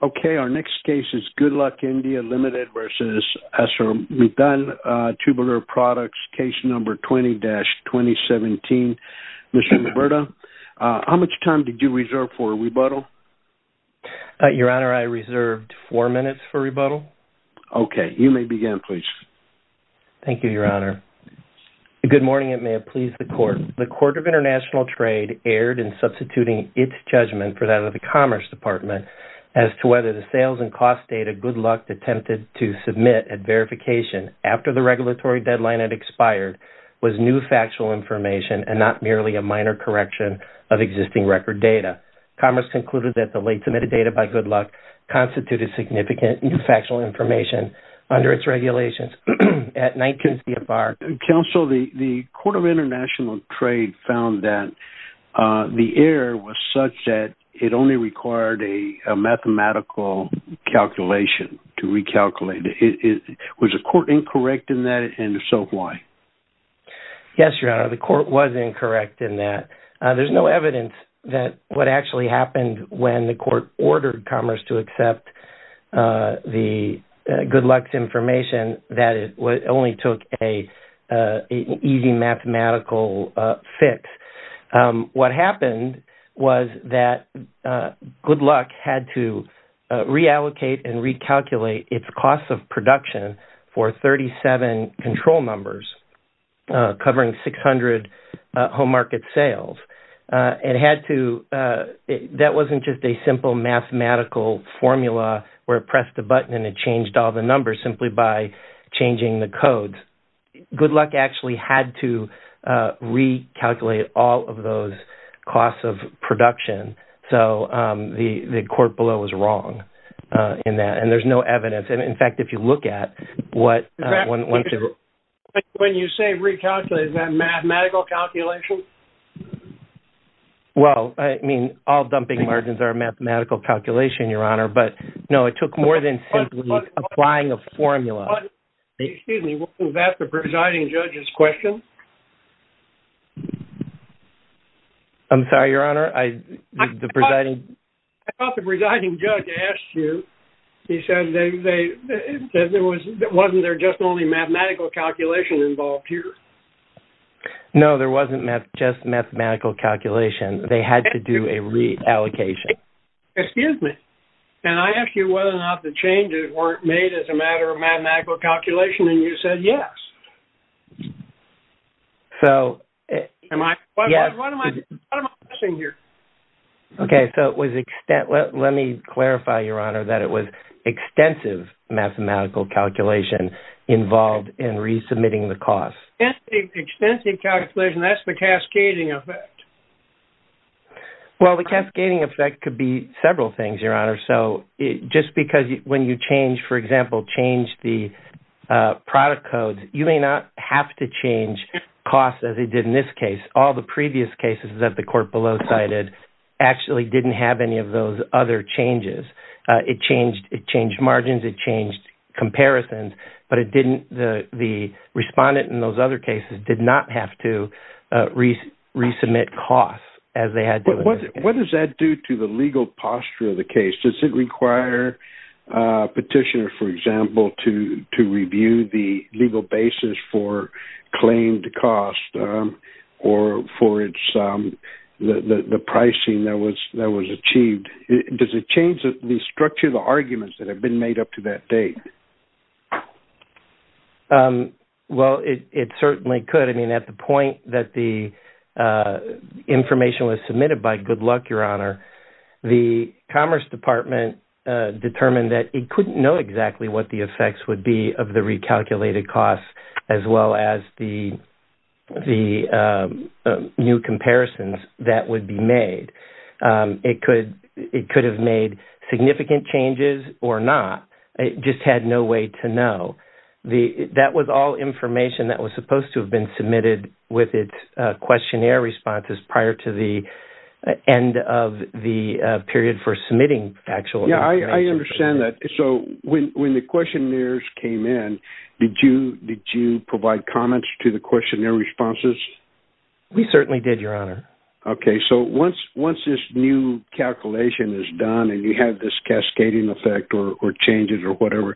Okay, our next case is Goodluck India Limited v. Essar. We've done Tubular Products, Case No. 20-2017. Mr. Roberto, how much time did you reserve for rebuttal? Your Honor, I reserved four minutes for rebuttal. Okay, you may begin, please. Thank you, Your Honor. Good morning, and may it please the Court. The Court of International Trade erred in substituting its judgment for that of the Commerce Department as to whether the sales and cost data Goodluck attempted to submit at verification after the regulatory deadline had expired was new factual information and not merely a minor correction of existing record data. Commerce concluded that the late submitted data by Goodluck constituted significant new factual information under its regulations at 19 CFR. Counsel, the Court of International Trade found that the error was such that it only required a mathematical calculation to recalculate. Was the Court incorrect in that, and if so, why? Yes, Your Honor, the Court was incorrect in that. There's no evidence that what actually happened when the Court ordered Commerce to accept the Goodluck's information that it only took an easy mathematical fix. What happened was that Goodluck had to reallocate and recalculate its cost of production for 37 control numbers, covering 600 home market sales. That wasn't just a simple mathematical formula where it pressed a button and it changed all the numbers simply by changing the codes. Goodluck actually had to recalculate all of those costs of production. So the Court below was wrong in that, and there's no evidence. In fact, if you look at what... When you say recalculate, is that mathematical calculation? Well, I mean, all dumping margins are mathematical calculation, Your Honor, but no, it took more than simply applying a formula. Excuse me, wasn't that the presiding judge's question? I'm sorry, Your Honor? I thought the presiding judge asked you. He said wasn't there just only mathematical calculation involved here? No, there wasn't just mathematical calculation. They had to do a reallocation. Excuse me? Can I ask you whether or not the changes weren't made as a matter of mathematical calculation and you said yes? So... What am I missing here? Okay, so it was... Let me clarify, Your Honor, that it was extensive mathematical calculation involved in resubmitting the cost. Extensive calculation, that's the cascading effect. Well, the cascading effect could be several things, Your Honor. So just because when you change, for example, change the product codes, you may not have to change costs as they did in this case. All the previous cases that the Court below cited actually didn't have any of those other changes. It changed margins, it changed comparisons, but the respondent in those other cases did not have to resubmit costs as they had done in this case. What does that do to the legal posture of the case? Does it require a petitioner, for example, to review the legal basis for claimed cost or for the pricing that was achieved? Does it change the structure of the arguments that have been made up to that date? Well, it certainly could. I mean, at the point that the information was submitted by Good Luck, Your Honor, the Commerce Department determined that it couldn't know exactly what the effects would be of the recalculated costs as well as the new comparisons that would be made. It could have made significant changes or not. It just had no way to know. That was all information that was supposed to have been submitted with its questionnaire responses prior to the end of the period for submitting actual information. Yeah, I understand that. So when the questionnaires came in, did you provide comments to the questionnaire responses? We certainly did, Your Honor. Okay, so once this new calculation is done and you have this cascading effect or changes or whatever,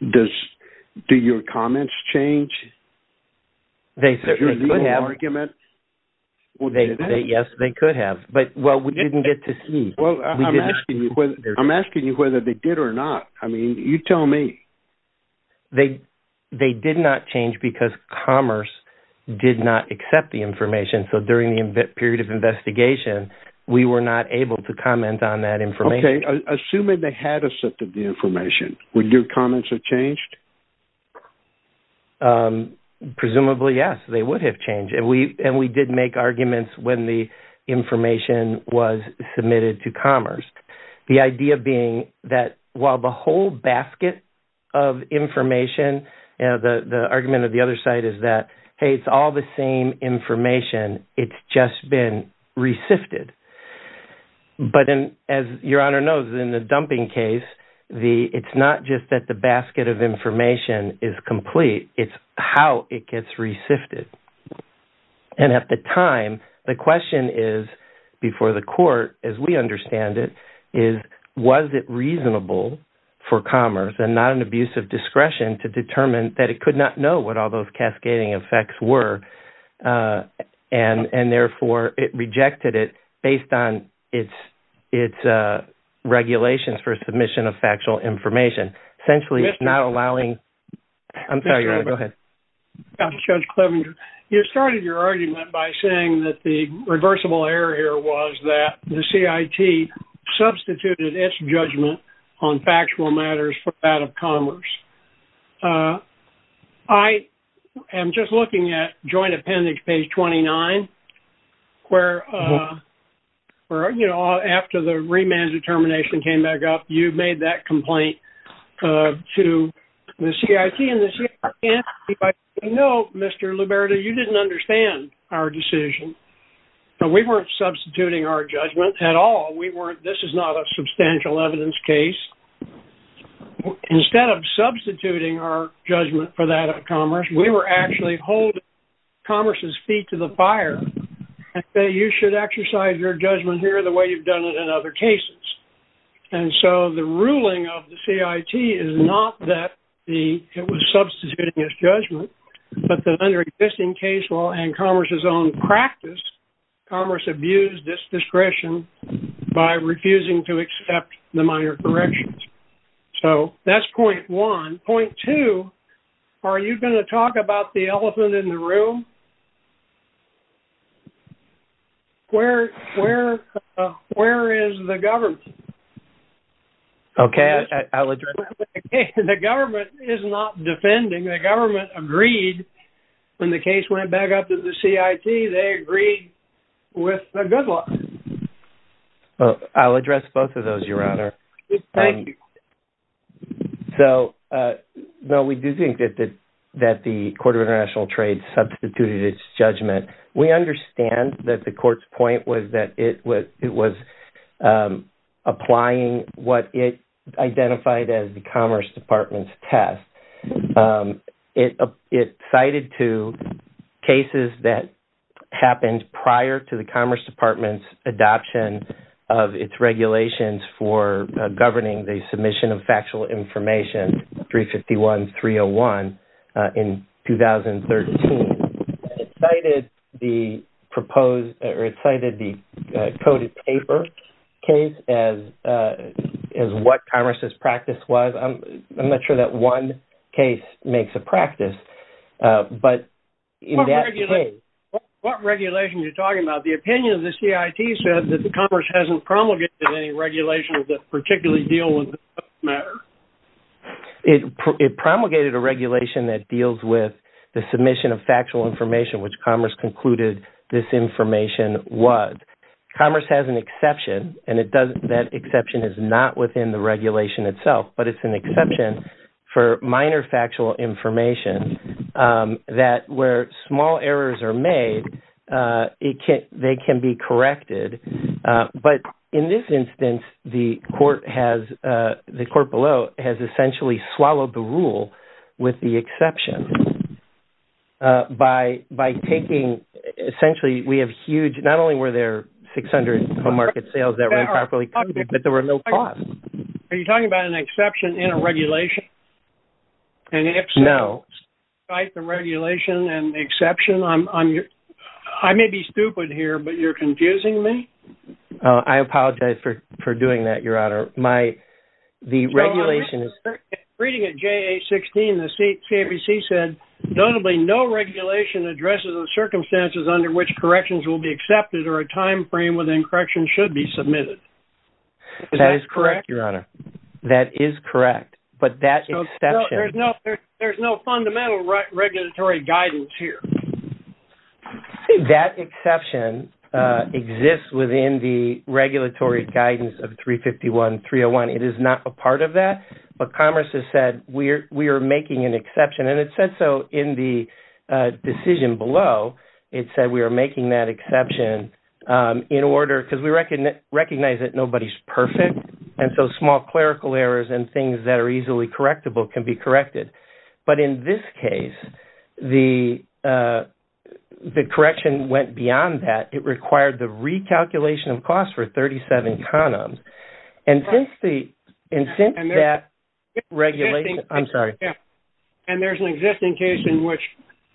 do your comments change? They certainly could have. Yes, they could have. Well, we didn't get to see. I'm asking you whether they did or not. I mean, you tell me. They did not change because Commerce did not accept the information. So during the period of investigation, we were not able to comment on that information. Okay, assuming they had accepted the information, would your comments have changed? Presumably, yes, they would have changed. And we did make arguments when the information was submitted to Commerce. The idea being that while the whole basket of information, the argument of the other side is that, hey, it's all the same information. It's just been re-sifted. But as Your Honor knows, in the dumping case, it's not just that the basket of information is complete. It's how it gets re-sifted. And at the time, the question is, before the court, as we understand it, was it reasonable for Commerce, and not an abuse of discretion, to determine that it could not know what all those cascading effects were? And therefore, it rejected it based on its regulations for submission of factual information. Essentially, it's not allowing... I'm sorry, Your Honor, go ahead. Judge Clevenger, you started your argument by saying that the reversible error here was that the CIT substituted its judgment on factual matters for that of Commerce. I am just looking at Joint Appendix, page 29, where, you know, after the remand determination came back up, you made that complaint to the CIT, and the CIT by saying, no, Mr. Liberta, you didn't understand our decision. We weren't substituting our judgment at all. This is not a substantial evidence case. Instead of substituting our judgment for that of Commerce, we were actually holding Commerce's feet to the fire, and saying, you should exercise your judgment here the way you've done it in other cases. And so the ruling of the CIT is not that it was substituting its judgment, but the under existing case law and Commerce's own practice, Commerce abused its discretion by refusing to accept the minor corrections. So that's point one. Point two, are you going to talk about the elephant in the room? Where is the government? Okay, I'll address that. The government is not defending. The government agreed when the case went back up to the CIT. They agreed with the good law. Well, I'll address both of those, Your Honor. Thank you. So, no, we do think that the Court of International Trade substituted its judgment. We understand that the court's point was that it was applying what it identified as the Commerce Department's test. It cited two cases that happened prior to the Commerce Department's adoption of its regulations for governing the submission of factual information, 351-301, in 2013. It cited the coded paper case as what Commerce's practice was. I'm not sure that one case makes a practice, but in that case... What regulation are you talking about? The opinion of the CIT said that the Commerce hasn't promulgated any regulation that particularly deal with this matter. It promulgated a regulation that deals with the submission of factual information, which Commerce concluded this information was. Commerce has an exception, and that exception is not within the regulation itself, but it's an exception for minor factual information that where small errors are made, they can be corrected. But in this instance, the court below has essentially swallowed the rule with the exception by taking... Essentially, we have huge... Not only were there 600 home market sales that were improperly coded, but there were no costs. Are you talking about an exception in a regulation? No. And if so, despite the regulation and the exception, I may be stupid here, but you're confusing me? I apologize for doing that, Your Honor. The regulation is... Reading at JA-16, the CABC said, notably, no regulation addresses the circumstances under which corrections will be accepted or a time frame within corrections should be submitted. That is correct, Your Honor. That is correct, but that exception... There's no fundamental regulatory guidance here. That exception exists within the regulatory guidance of 351.301. It is not a part of that, but Commerce has said, we are making an exception, and it said so in the decision below. It said we are making that exception in order... Because we recognize that nobody's perfect, and so small clerical errors and things that are easily correctable can be corrected. But in this case, the correction went beyond that. It required the recalculation of costs for 37 condoms. And since that regulation... I'm sorry. And there's an existing case in which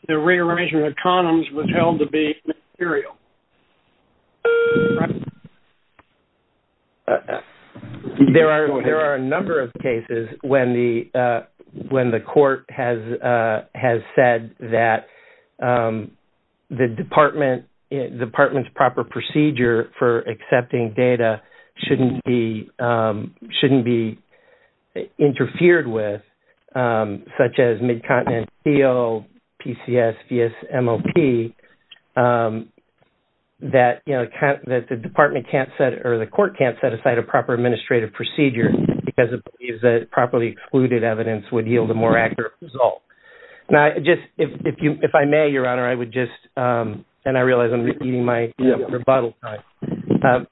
the rearrangement of condoms was held to be immaterial. There are a number of cases when the court has said that the department's proper procedure for accepting data shouldn't be interfered with, such as Mid-Continent PO, PCS, VS, MOP. That the department can't set... Or the court can't set aside a proper administrative procedure because it believes that properly excluded evidence would yield a more accurate result. Now, just if I may, Your Honor, I would just... And I realize I'm eating my rebuttal time.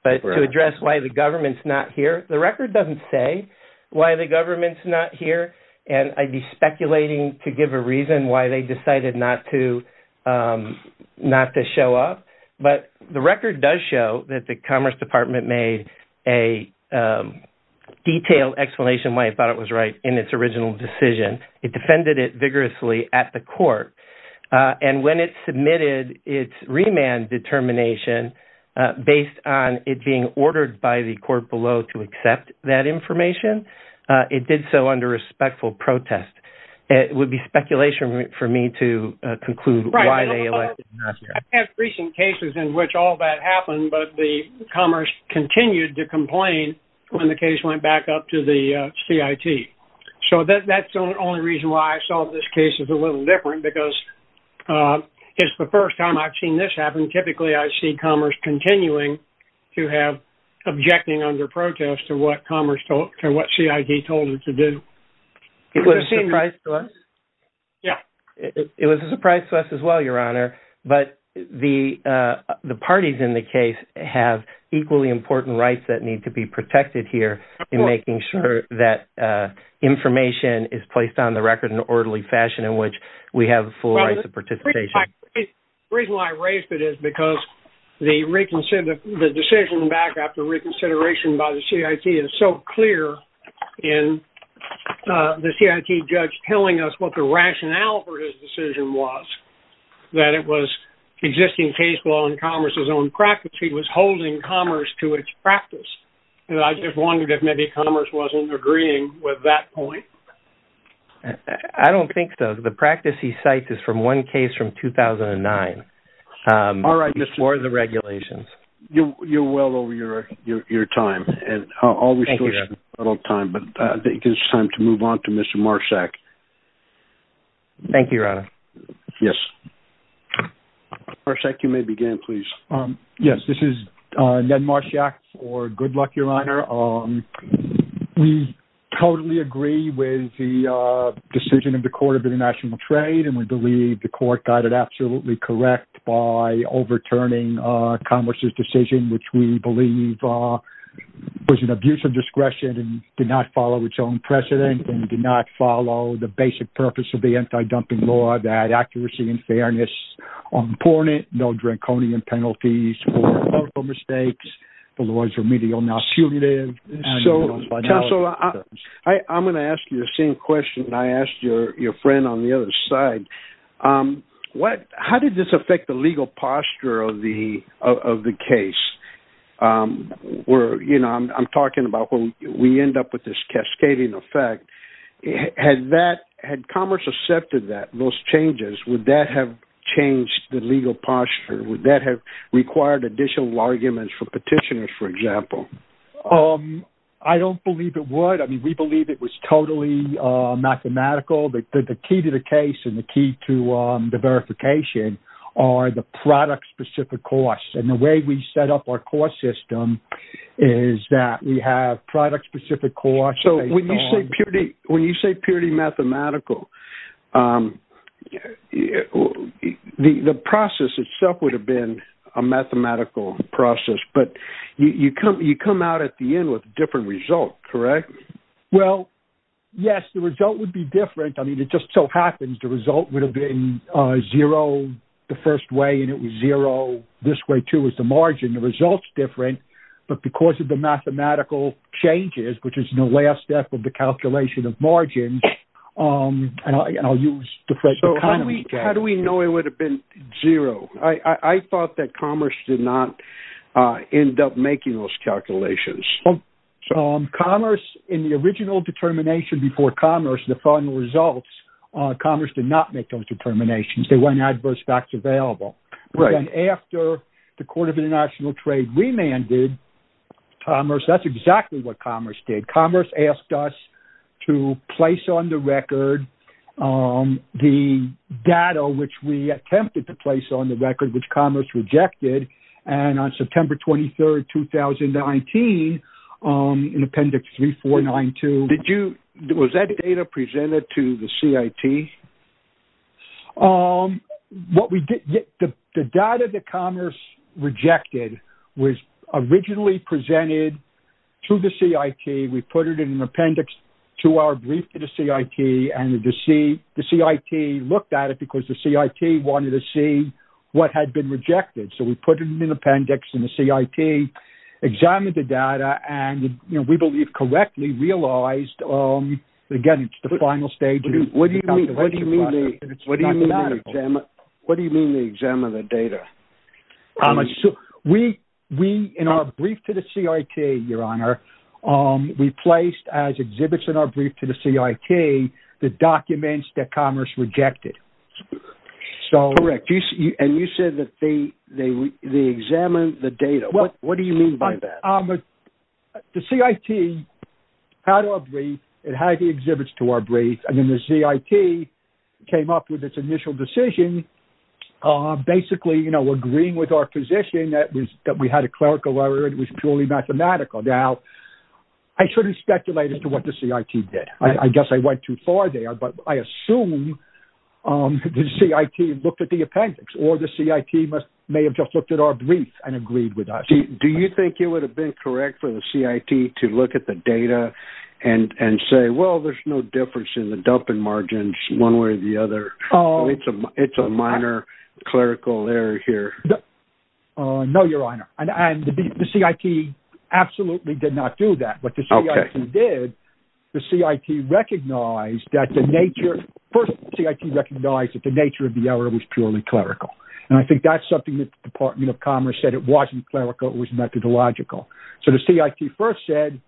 But to address why the government's not here, the record doesn't say why the government's not here, and I'd be speculating to give a reason why they decided not to show up. But the record does show that the Commerce Department made a detailed explanation why it thought it was right in its original decision. It defended it vigorously at the court. And when it submitted its remand determination based on it being ordered by the court below to accept that information, it did so under respectful protest. It would be speculation for me to conclude why they elected not to. I have recent cases in which all that happened, but Commerce continued to complain when the case went back up to the CIT. So that's the only reason why I saw this case as a little different, because it's the first time I've seen this happen. Typically, I see Commerce continuing to have... objecting under protest to what Commerce told... to what CIT told it to do. It was a surprise to us. Yeah. It was a surprise to us as well, Your Honor. But the parties in the case have equally important rights that need to be protected here in making sure that information is placed on the record in an orderly fashion in which we have full rights of participation. The reason why I raised it is because the decision back after reconsideration by the CIT is so clear in the CIT judge telling us what the rationale for his decision was, that it was existing case law in Commerce's own practice. He was holding Commerce to its practice. And I just wondered if maybe Commerce wasn't agreeing with that point. I don't think so. The practice he cites is from one case from 2009... All right, Mr.... ...before the regulations. You're well over your time. Thank you, Your Honor. But I think it's time to move on to Mr. Marschak. Thank you, Your Honor. Yes. Marschak, you may begin, please. Yes, this is Ned Marschak for Good Luck, Your Honor. We totally agree with the decision of the Court of International Trade, by overturning Commerce's decision, which we believe was an abuse of discretion and did not follow its own precedent and did not follow the basic purpose of the anti-dumping law, that accuracy and fairness are important, no draconian penalties for political mistakes. The law is remedial, not punitive. Counselor, I'm going to ask you the same question that I asked your friend on the other side. How did this affect the legal posture of the case? I'm talking about we end up with this cascading effect. Had Commerce accepted those changes, would that have changed the legal posture? Would that have required additional arguments for petitioners, for example? I don't believe it would. I mean, we believe it was totally mathematical. The key to the case and the key to the verification are the product-specific costs. And the way we set up our cost system is that we have product-specific costs based on... So when you say purity mathematical, the process itself would have been a mathematical process, but you come out at the end with a different result, correct? Well, yes, the result would be different. I mean, it just so happens the result would have been zero the first way, and it was zero this way, too, as the margin. The result's different. But because of the mathematical changes, which is the last step of the calculation of margins... How do we know it would have been zero? I thought that Commerce did not end up making those calculations. Commerce, in the original determination before Commerce, the final results, Commerce did not make those determinations. There weren't adverse facts available. But then after the Court of International Trade remanded Commerce, that's exactly what Commerce did. Commerce asked us to place on the record the data which we attempted to place on the record, which Commerce rejected. And on September 23, 2019, in Appendix 3492... Was that data presented to the CIT? The data that Commerce rejected was originally presented to the CIT. We put it in an appendix to our brief to the CIT, and the CIT looked at it because the CIT wanted to see what had been rejected. So we put it in an appendix in the CIT, examined the data, and we believe correctly realized... Again, it's the final stage. What do you mean the exam of the data? In our brief to the CIT, Your Honor, we placed as exhibits in our brief to the CIT the documents that Commerce rejected. Correct. And you said that they examined the data. What do you mean by that? The CIT had our brief, it had the exhibits to our brief, and then the CIT came up with its initial decision, basically agreeing with our position that we had a clerical error and it was purely mathematical. Now, I shouldn't speculate as to what the CIT did. I guess I went too far there, but I assume the CIT looked at the appendix or the CIT may have just looked at our brief and agreed with us. Do you think it would have been correct for the CIT to look at the data and say, well, there's no difference in the dumping margins one way or the other? It's a minor clerical error here. No, Your Honor, and the CIT absolutely did not do that. What the CIT did, the CIT recognized that the nature... First, the CIT recognized that the nature of the error was purely clerical, and I think that's something that the Department of Commerce said, it wasn't clerical, it was methodological. So the CIT first said,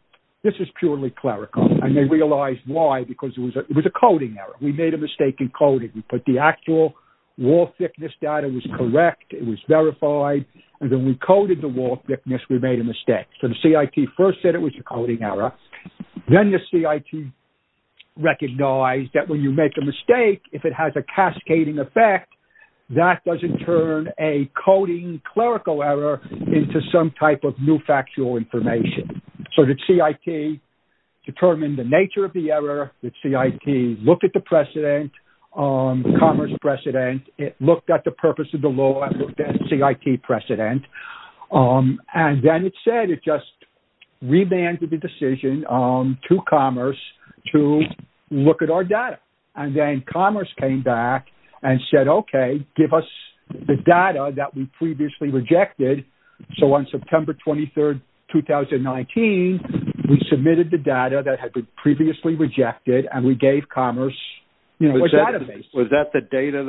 this is purely clerical, and they realized why, because it was a coding error. We made a mistake in coding. We put the actual wall thickness data was correct, it was verified, and then we coded the wall thickness, we made a mistake. So the CIT first said it was a coding error. Then the CIT recognized that when you make a mistake, if it has a cascading effect, that doesn't turn a coding clerical error into some type of new factual information. So the CIT determined the nature of the error, the CIT looked at the precedent, Commerce precedent, it looked at the purpose of the law, the CIT precedent, and then it said it just remanded the decision to Commerce to look at our data. And then Commerce came back and said, okay, give us the data that we previously rejected. So on September 23rd, 2019, we submitted the data that had been previously rejected, and we gave Commerce a database. Was that the data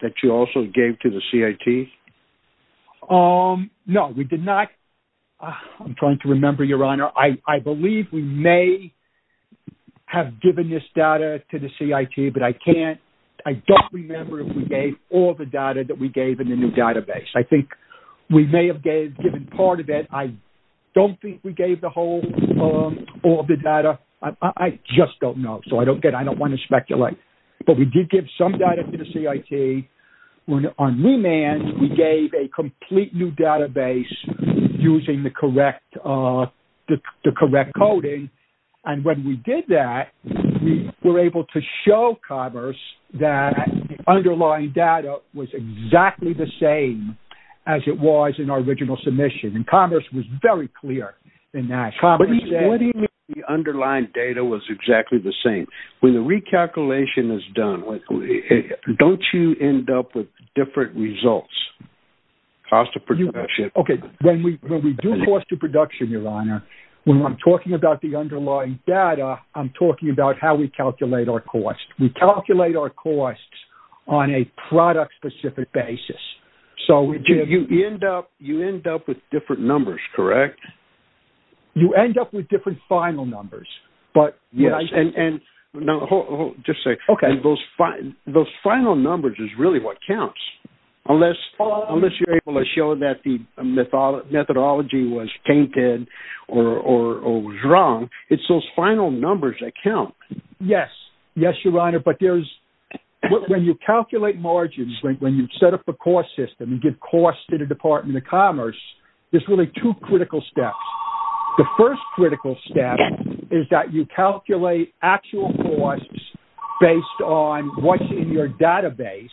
that you also gave to the CIT? No, we did not. I'm trying to remember, Your Honor. I believe we may have given this data to the CIT, but I don't remember if we gave all the data that we gave in the new database. I think we may have given part of it. I don't think we gave all the data. I just don't know, so I don't want to speculate. But we did give some data to the CIT. On remand, we gave a complete new database using the correct coding, and when we did that, we were able to show Commerce that the underlying data was exactly the same as it was in our original submission, and Commerce was very clear in that. What do you mean the underlying data was exactly the same? When the recalculation is done, don't you end up with different results, cost of production? Okay, when we do cost of production, Your Honor, when I'm talking about the underlying data, I'm talking about how we calculate our costs. We calculate our costs on a product-specific basis. You end up with different numbers, correct? You end up with different final numbers. Yes, and those final numbers is really what counts. Unless you're able to show that the methodology was tainted or was wrong, it's those final numbers that count. Yes, Your Honor, but when you calculate margins, when you set up a cost system and give costs to the Department of Commerce, there's really two critical steps. The first critical step is that you calculate actual costs based on what's in your database,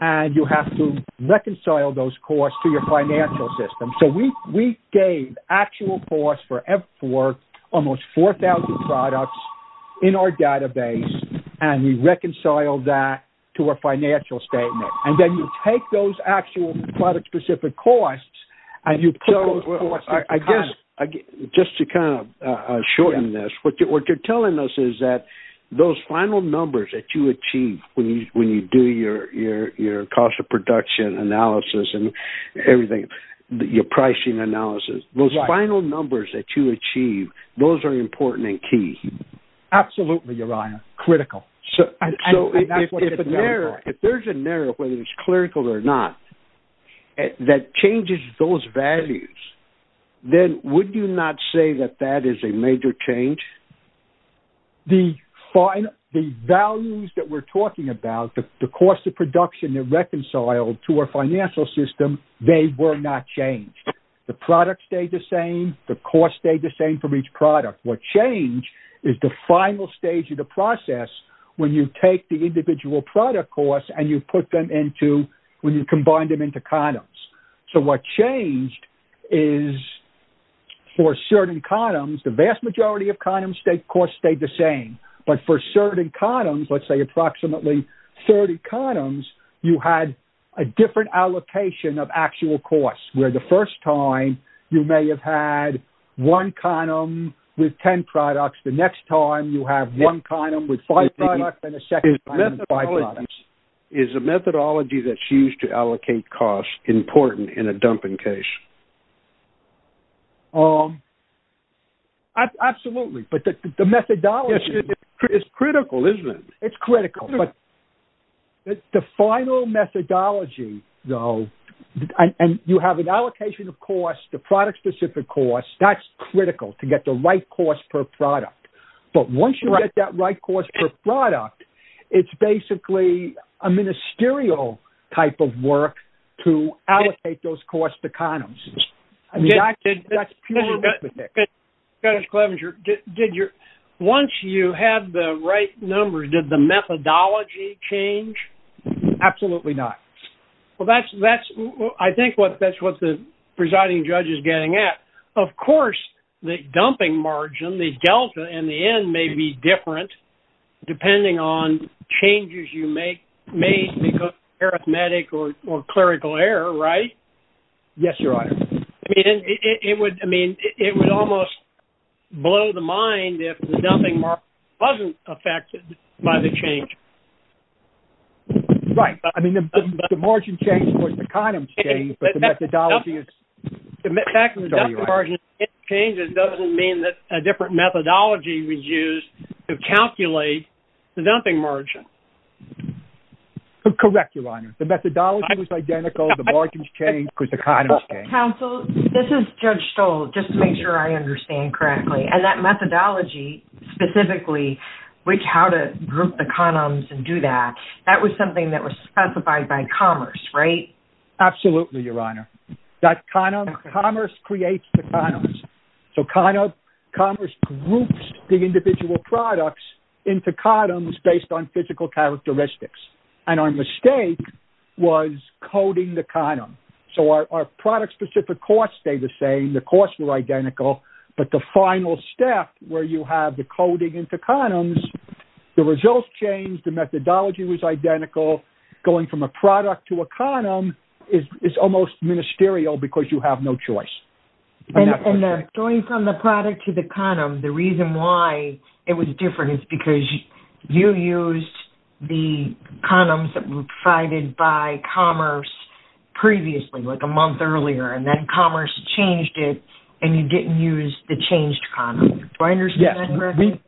and you have to reconcile those costs to your financial system. So we gave actual costs for almost 4,000 products in our database, and we reconciled that to our financial statement. And then you take those actual product-specific costs Just to kind of shorten this, what you're telling us is that those final numbers that you achieve when you do your cost of production analysis and everything, your pricing analysis, those final numbers that you achieve, those are important and key. Absolutely, Your Honor, critical. So if there's a narrow, whether it's clerical or not, that changes those values, then would you not say that that is a major change? The values that we're talking about, the cost of production, they're reconciled to our financial system. They were not changed. The product stayed the same. The cost stayed the same for each product. What changed is the final stage of the process when you take the individual product costs and you put them into, when you combine them into condoms. So what changed is for certain condoms, the vast majority of condom costs stayed the same. But for certain condoms, let's say approximately 30 condoms, you had a different allocation of actual costs, where the first time you may have had one condom with 10 products, the next time you have one condom with five products, Is the methodology that's used to allocate costs important in a dumping case? Absolutely, but the methodology... It's critical, isn't it? It's critical, but the final methodology, though, and you have an allocation of costs, the product-specific costs, that's critical to get the right cost per product. But once you get that right cost per product, it's basically a ministerial type of work to allocate those costs to condoms. Dennis Clevenger, once you had the right numbers, did the methodology change? Absolutely not. Well, I think that's what the presiding judge is getting at. Of course, the dumping margin, the delta in the end, may be different depending on changes you make. It may be because of arithmetic or clerical error, right? Yes, Your Honor. I mean, it would almost blow the mind if the dumping margin wasn't affected by the change. Right. I mean, the margin change was the condom change, but the methodology is... The fact that the dumping margin changes doesn't mean that a different methodology was used to calculate the dumping margin. Correct, Your Honor. The methodology was identical, the margins changed because the condoms changed. Counsel, this is Judge Stoll, just to make sure I understand correctly. And that methodology specifically, which how to group the condoms and do that, that was something that was specified by Commerce, right? Absolutely, Your Honor. Commerce creates the condoms. So Commerce groups the individual products into condoms based on physical characteristics. And our mistake was coding the condom. So our product-specific costs stayed the same, the costs were identical, but the final step where you have the coding into condoms, the results changed, the methodology was identical, going from a product to a condom is almost ministerial because you have no choice. And going from the product to the condom, the reason why it was different is because you used the condoms that were provided by Commerce previously, like a month earlier, and then Commerce changed it and you didn't use the changed condom. Do I understand that correctly?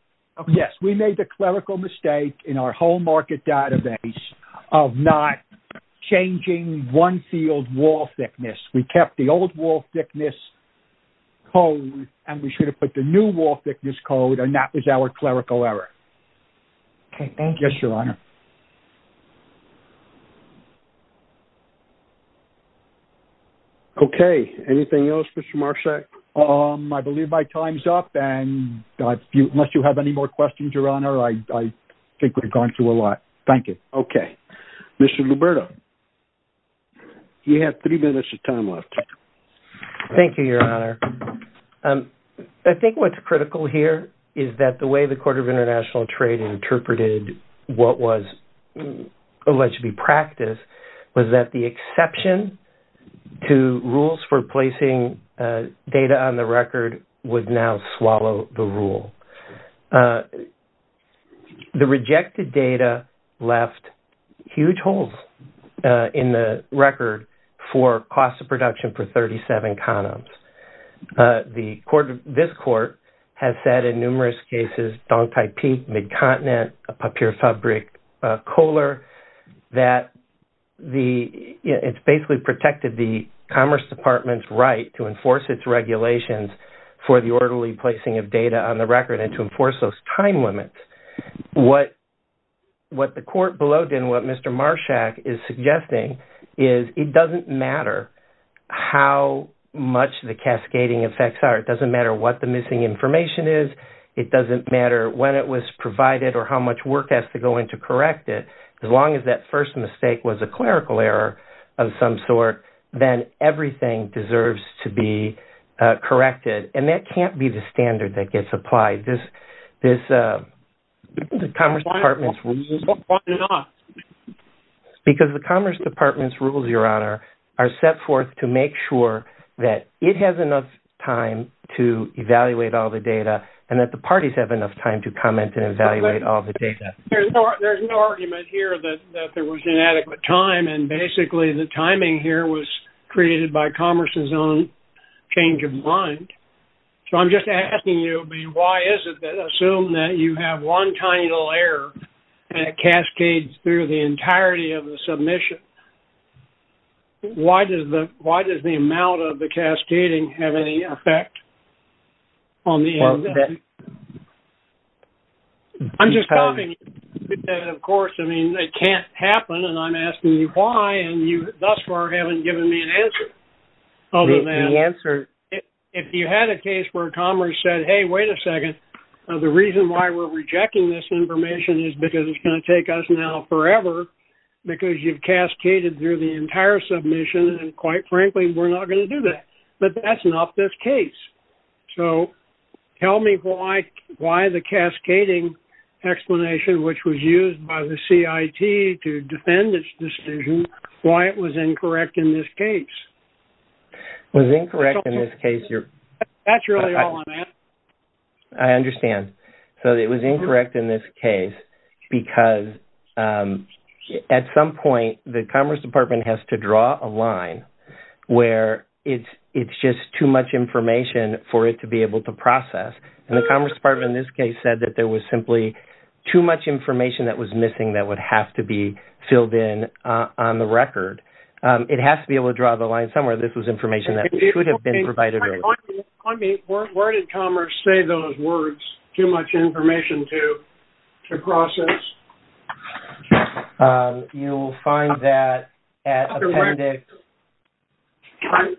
Yes, we made the clerical mistake in our whole market database of not changing one field wall thickness. We kept the old wall thickness code and we should have put the new wall thickness code and that was our clerical error. Okay, thank you. Yes, Your Honor. Okay, anything else, Mr. Marksek? and unless you have any more questions, Your Honor, I think we've gone through a lot. Thank you. Okay. Mr. Luberto, you have three minutes of time left. Thank you, Your Honor. I think what's critical here is that the way the Court of International Trade interpreted what was alleged to be practice for placing data on the record would now swallow the rule. The rejected data left huge holes in the record for cost of production for 37 condoms. This Court has said in numerous cases, Dong Tai Pek, Mid-Continent, Papir Fabric, Kohler, that it's basically protected the Commerce Department's right to enforce its regulations for the orderly placing of data on the record and to enforce those time limits. What the Court below did and what Mr. Marshak is suggesting is it doesn't matter how much the cascading effects are. It doesn't matter what the missing information is. It doesn't matter when it was provided or how much work has to go into correct it. As long as that first mistake was a clerical error of some sort, then everything deserves to be corrected. And that can't be the standard that gets applied. Because the Commerce Department's rules, Your Honor, are set forth to make sure that it has enough time to evaluate all the data and that the parties have enough time to comment and evaluate all the data. There's no argument here that there was inadequate time and basically the timing here was created by Commerce's own change of mind. So I'm just asking you, why is it that, assume that you have one tiny little error and it cascades through the entirety of the submission, why does the amount of the cascading have any effect on the end of it? I'm just asking you. Of course, I mean, it can't happen and I'm asking you why, and you thus far haven't given me an answer. If you had a case where Commerce said, hey, wait a second, the reason why we're rejecting this information is because it's going to take us now forever because you've cascaded through the entire submission and, quite frankly, we're not going to do that. But that's not this case. So tell me why the cascading explanation, which was used by the CIT to defend its decision, why it was incorrect in this case. It was incorrect in this case. That's really all I'm asking. I understand. So it was incorrect in this case because at some point the Commerce Department has to draw a line where it's just too much information for it to be able to process. And the Commerce Department in this case said that there was simply too much information that was missing that would have to be filled in on the record. It has to be able to draw the line somewhere. This was information that should have been provided earlier. Where did Commerce say those words, too much information to process? You'll find that at Appendix...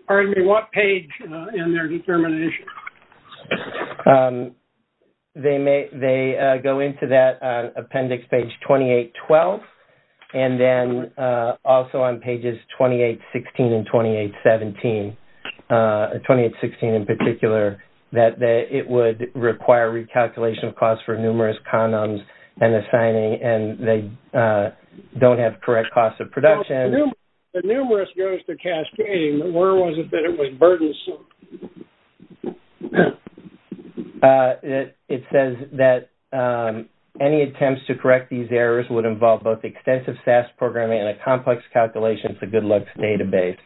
Pardon me, what page in their determination? They go into that Appendix page 2812 and then also on pages 2816 and 2817, 2816 in particular, that it would require recalculation of costs for numerous condoms and assigning, and they don't have correct costs of production. The numerous goes to cascading. Where was it that it was burdensome? It says that any attempts to correct these errors would involve both extensive SAS programming and a complex calculation for good luck's database.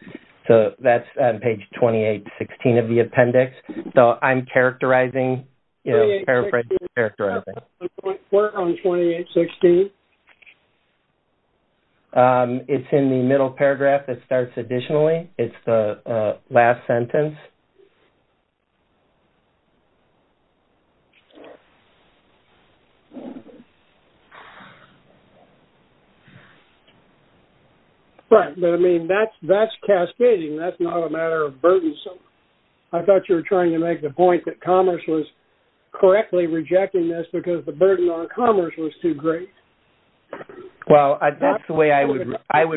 So that's on page 2816 of the Appendix. So I'm characterizing, paraphrasing, characterizing. Where on 2816? It's in the middle paragraph that starts additionally. It's the last sentence. Right, but I mean, that's cascading. That's not a matter of burdensome. I thought you were trying to make the point that Commerce was correctly rejecting this because the burden on Commerce was too great. Well, that's the way I would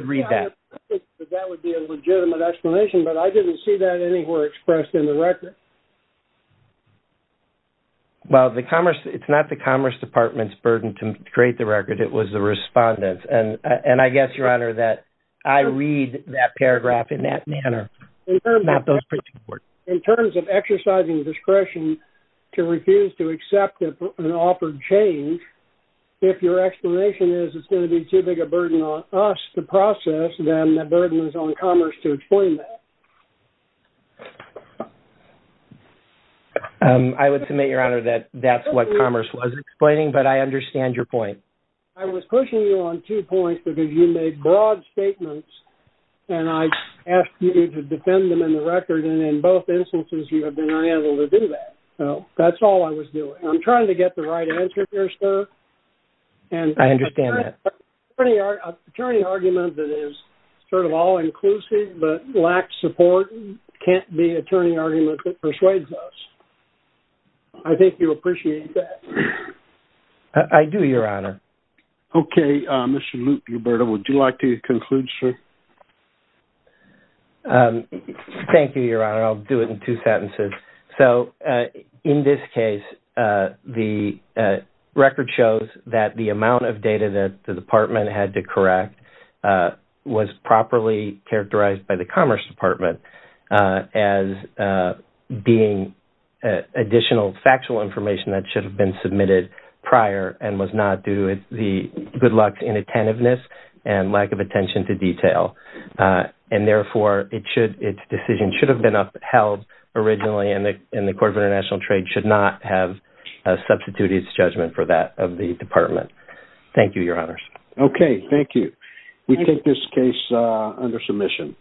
read that. I think that that would be a legitimate explanation, but I didn't see that anywhere expressed in the record. Well, it's not the Commerce Department's burden to create the record. It was the respondent's, and I guess, Your Honor, that I read that paragraph in that manner. In terms of exercising discretion to refuse to accept an offered change, if your explanation is it's going to be too big a burden on us to process then the burden is on Commerce to explain that. I would submit, Your Honor, that that's what Commerce was explaining, but I understand your point. I was pushing you on two points because you made broad statements, and I asked you to defend them in the record, and in both instances you have been unable to do that. So that's all I was doing. I'm trying to get the right answer here, sir. I understand that. An attorney argument that is sort of all-inclusive but lacks support can't be an attorney argument that persuades us. I think you'll appreciate that. I do, Your Honor. Okay. Mr. Lute, Roberto, would you like to conclude, sir? Thank you, Your Honor. I'll do it in two sentences. So in this case, the record shows that the amount of data that the Department had to correct was properly characterized by the Commerce Department as being additional factual information that should have been submitted prior and was not due to the good luck inattentiveness and lack of attention to detail, and therefore its decision should have been upheld originally and the Court of International Trade should not have substituted its judgment for that of the Department. Thank you, Your Honors. Okay. Thank you. We take this case under submission.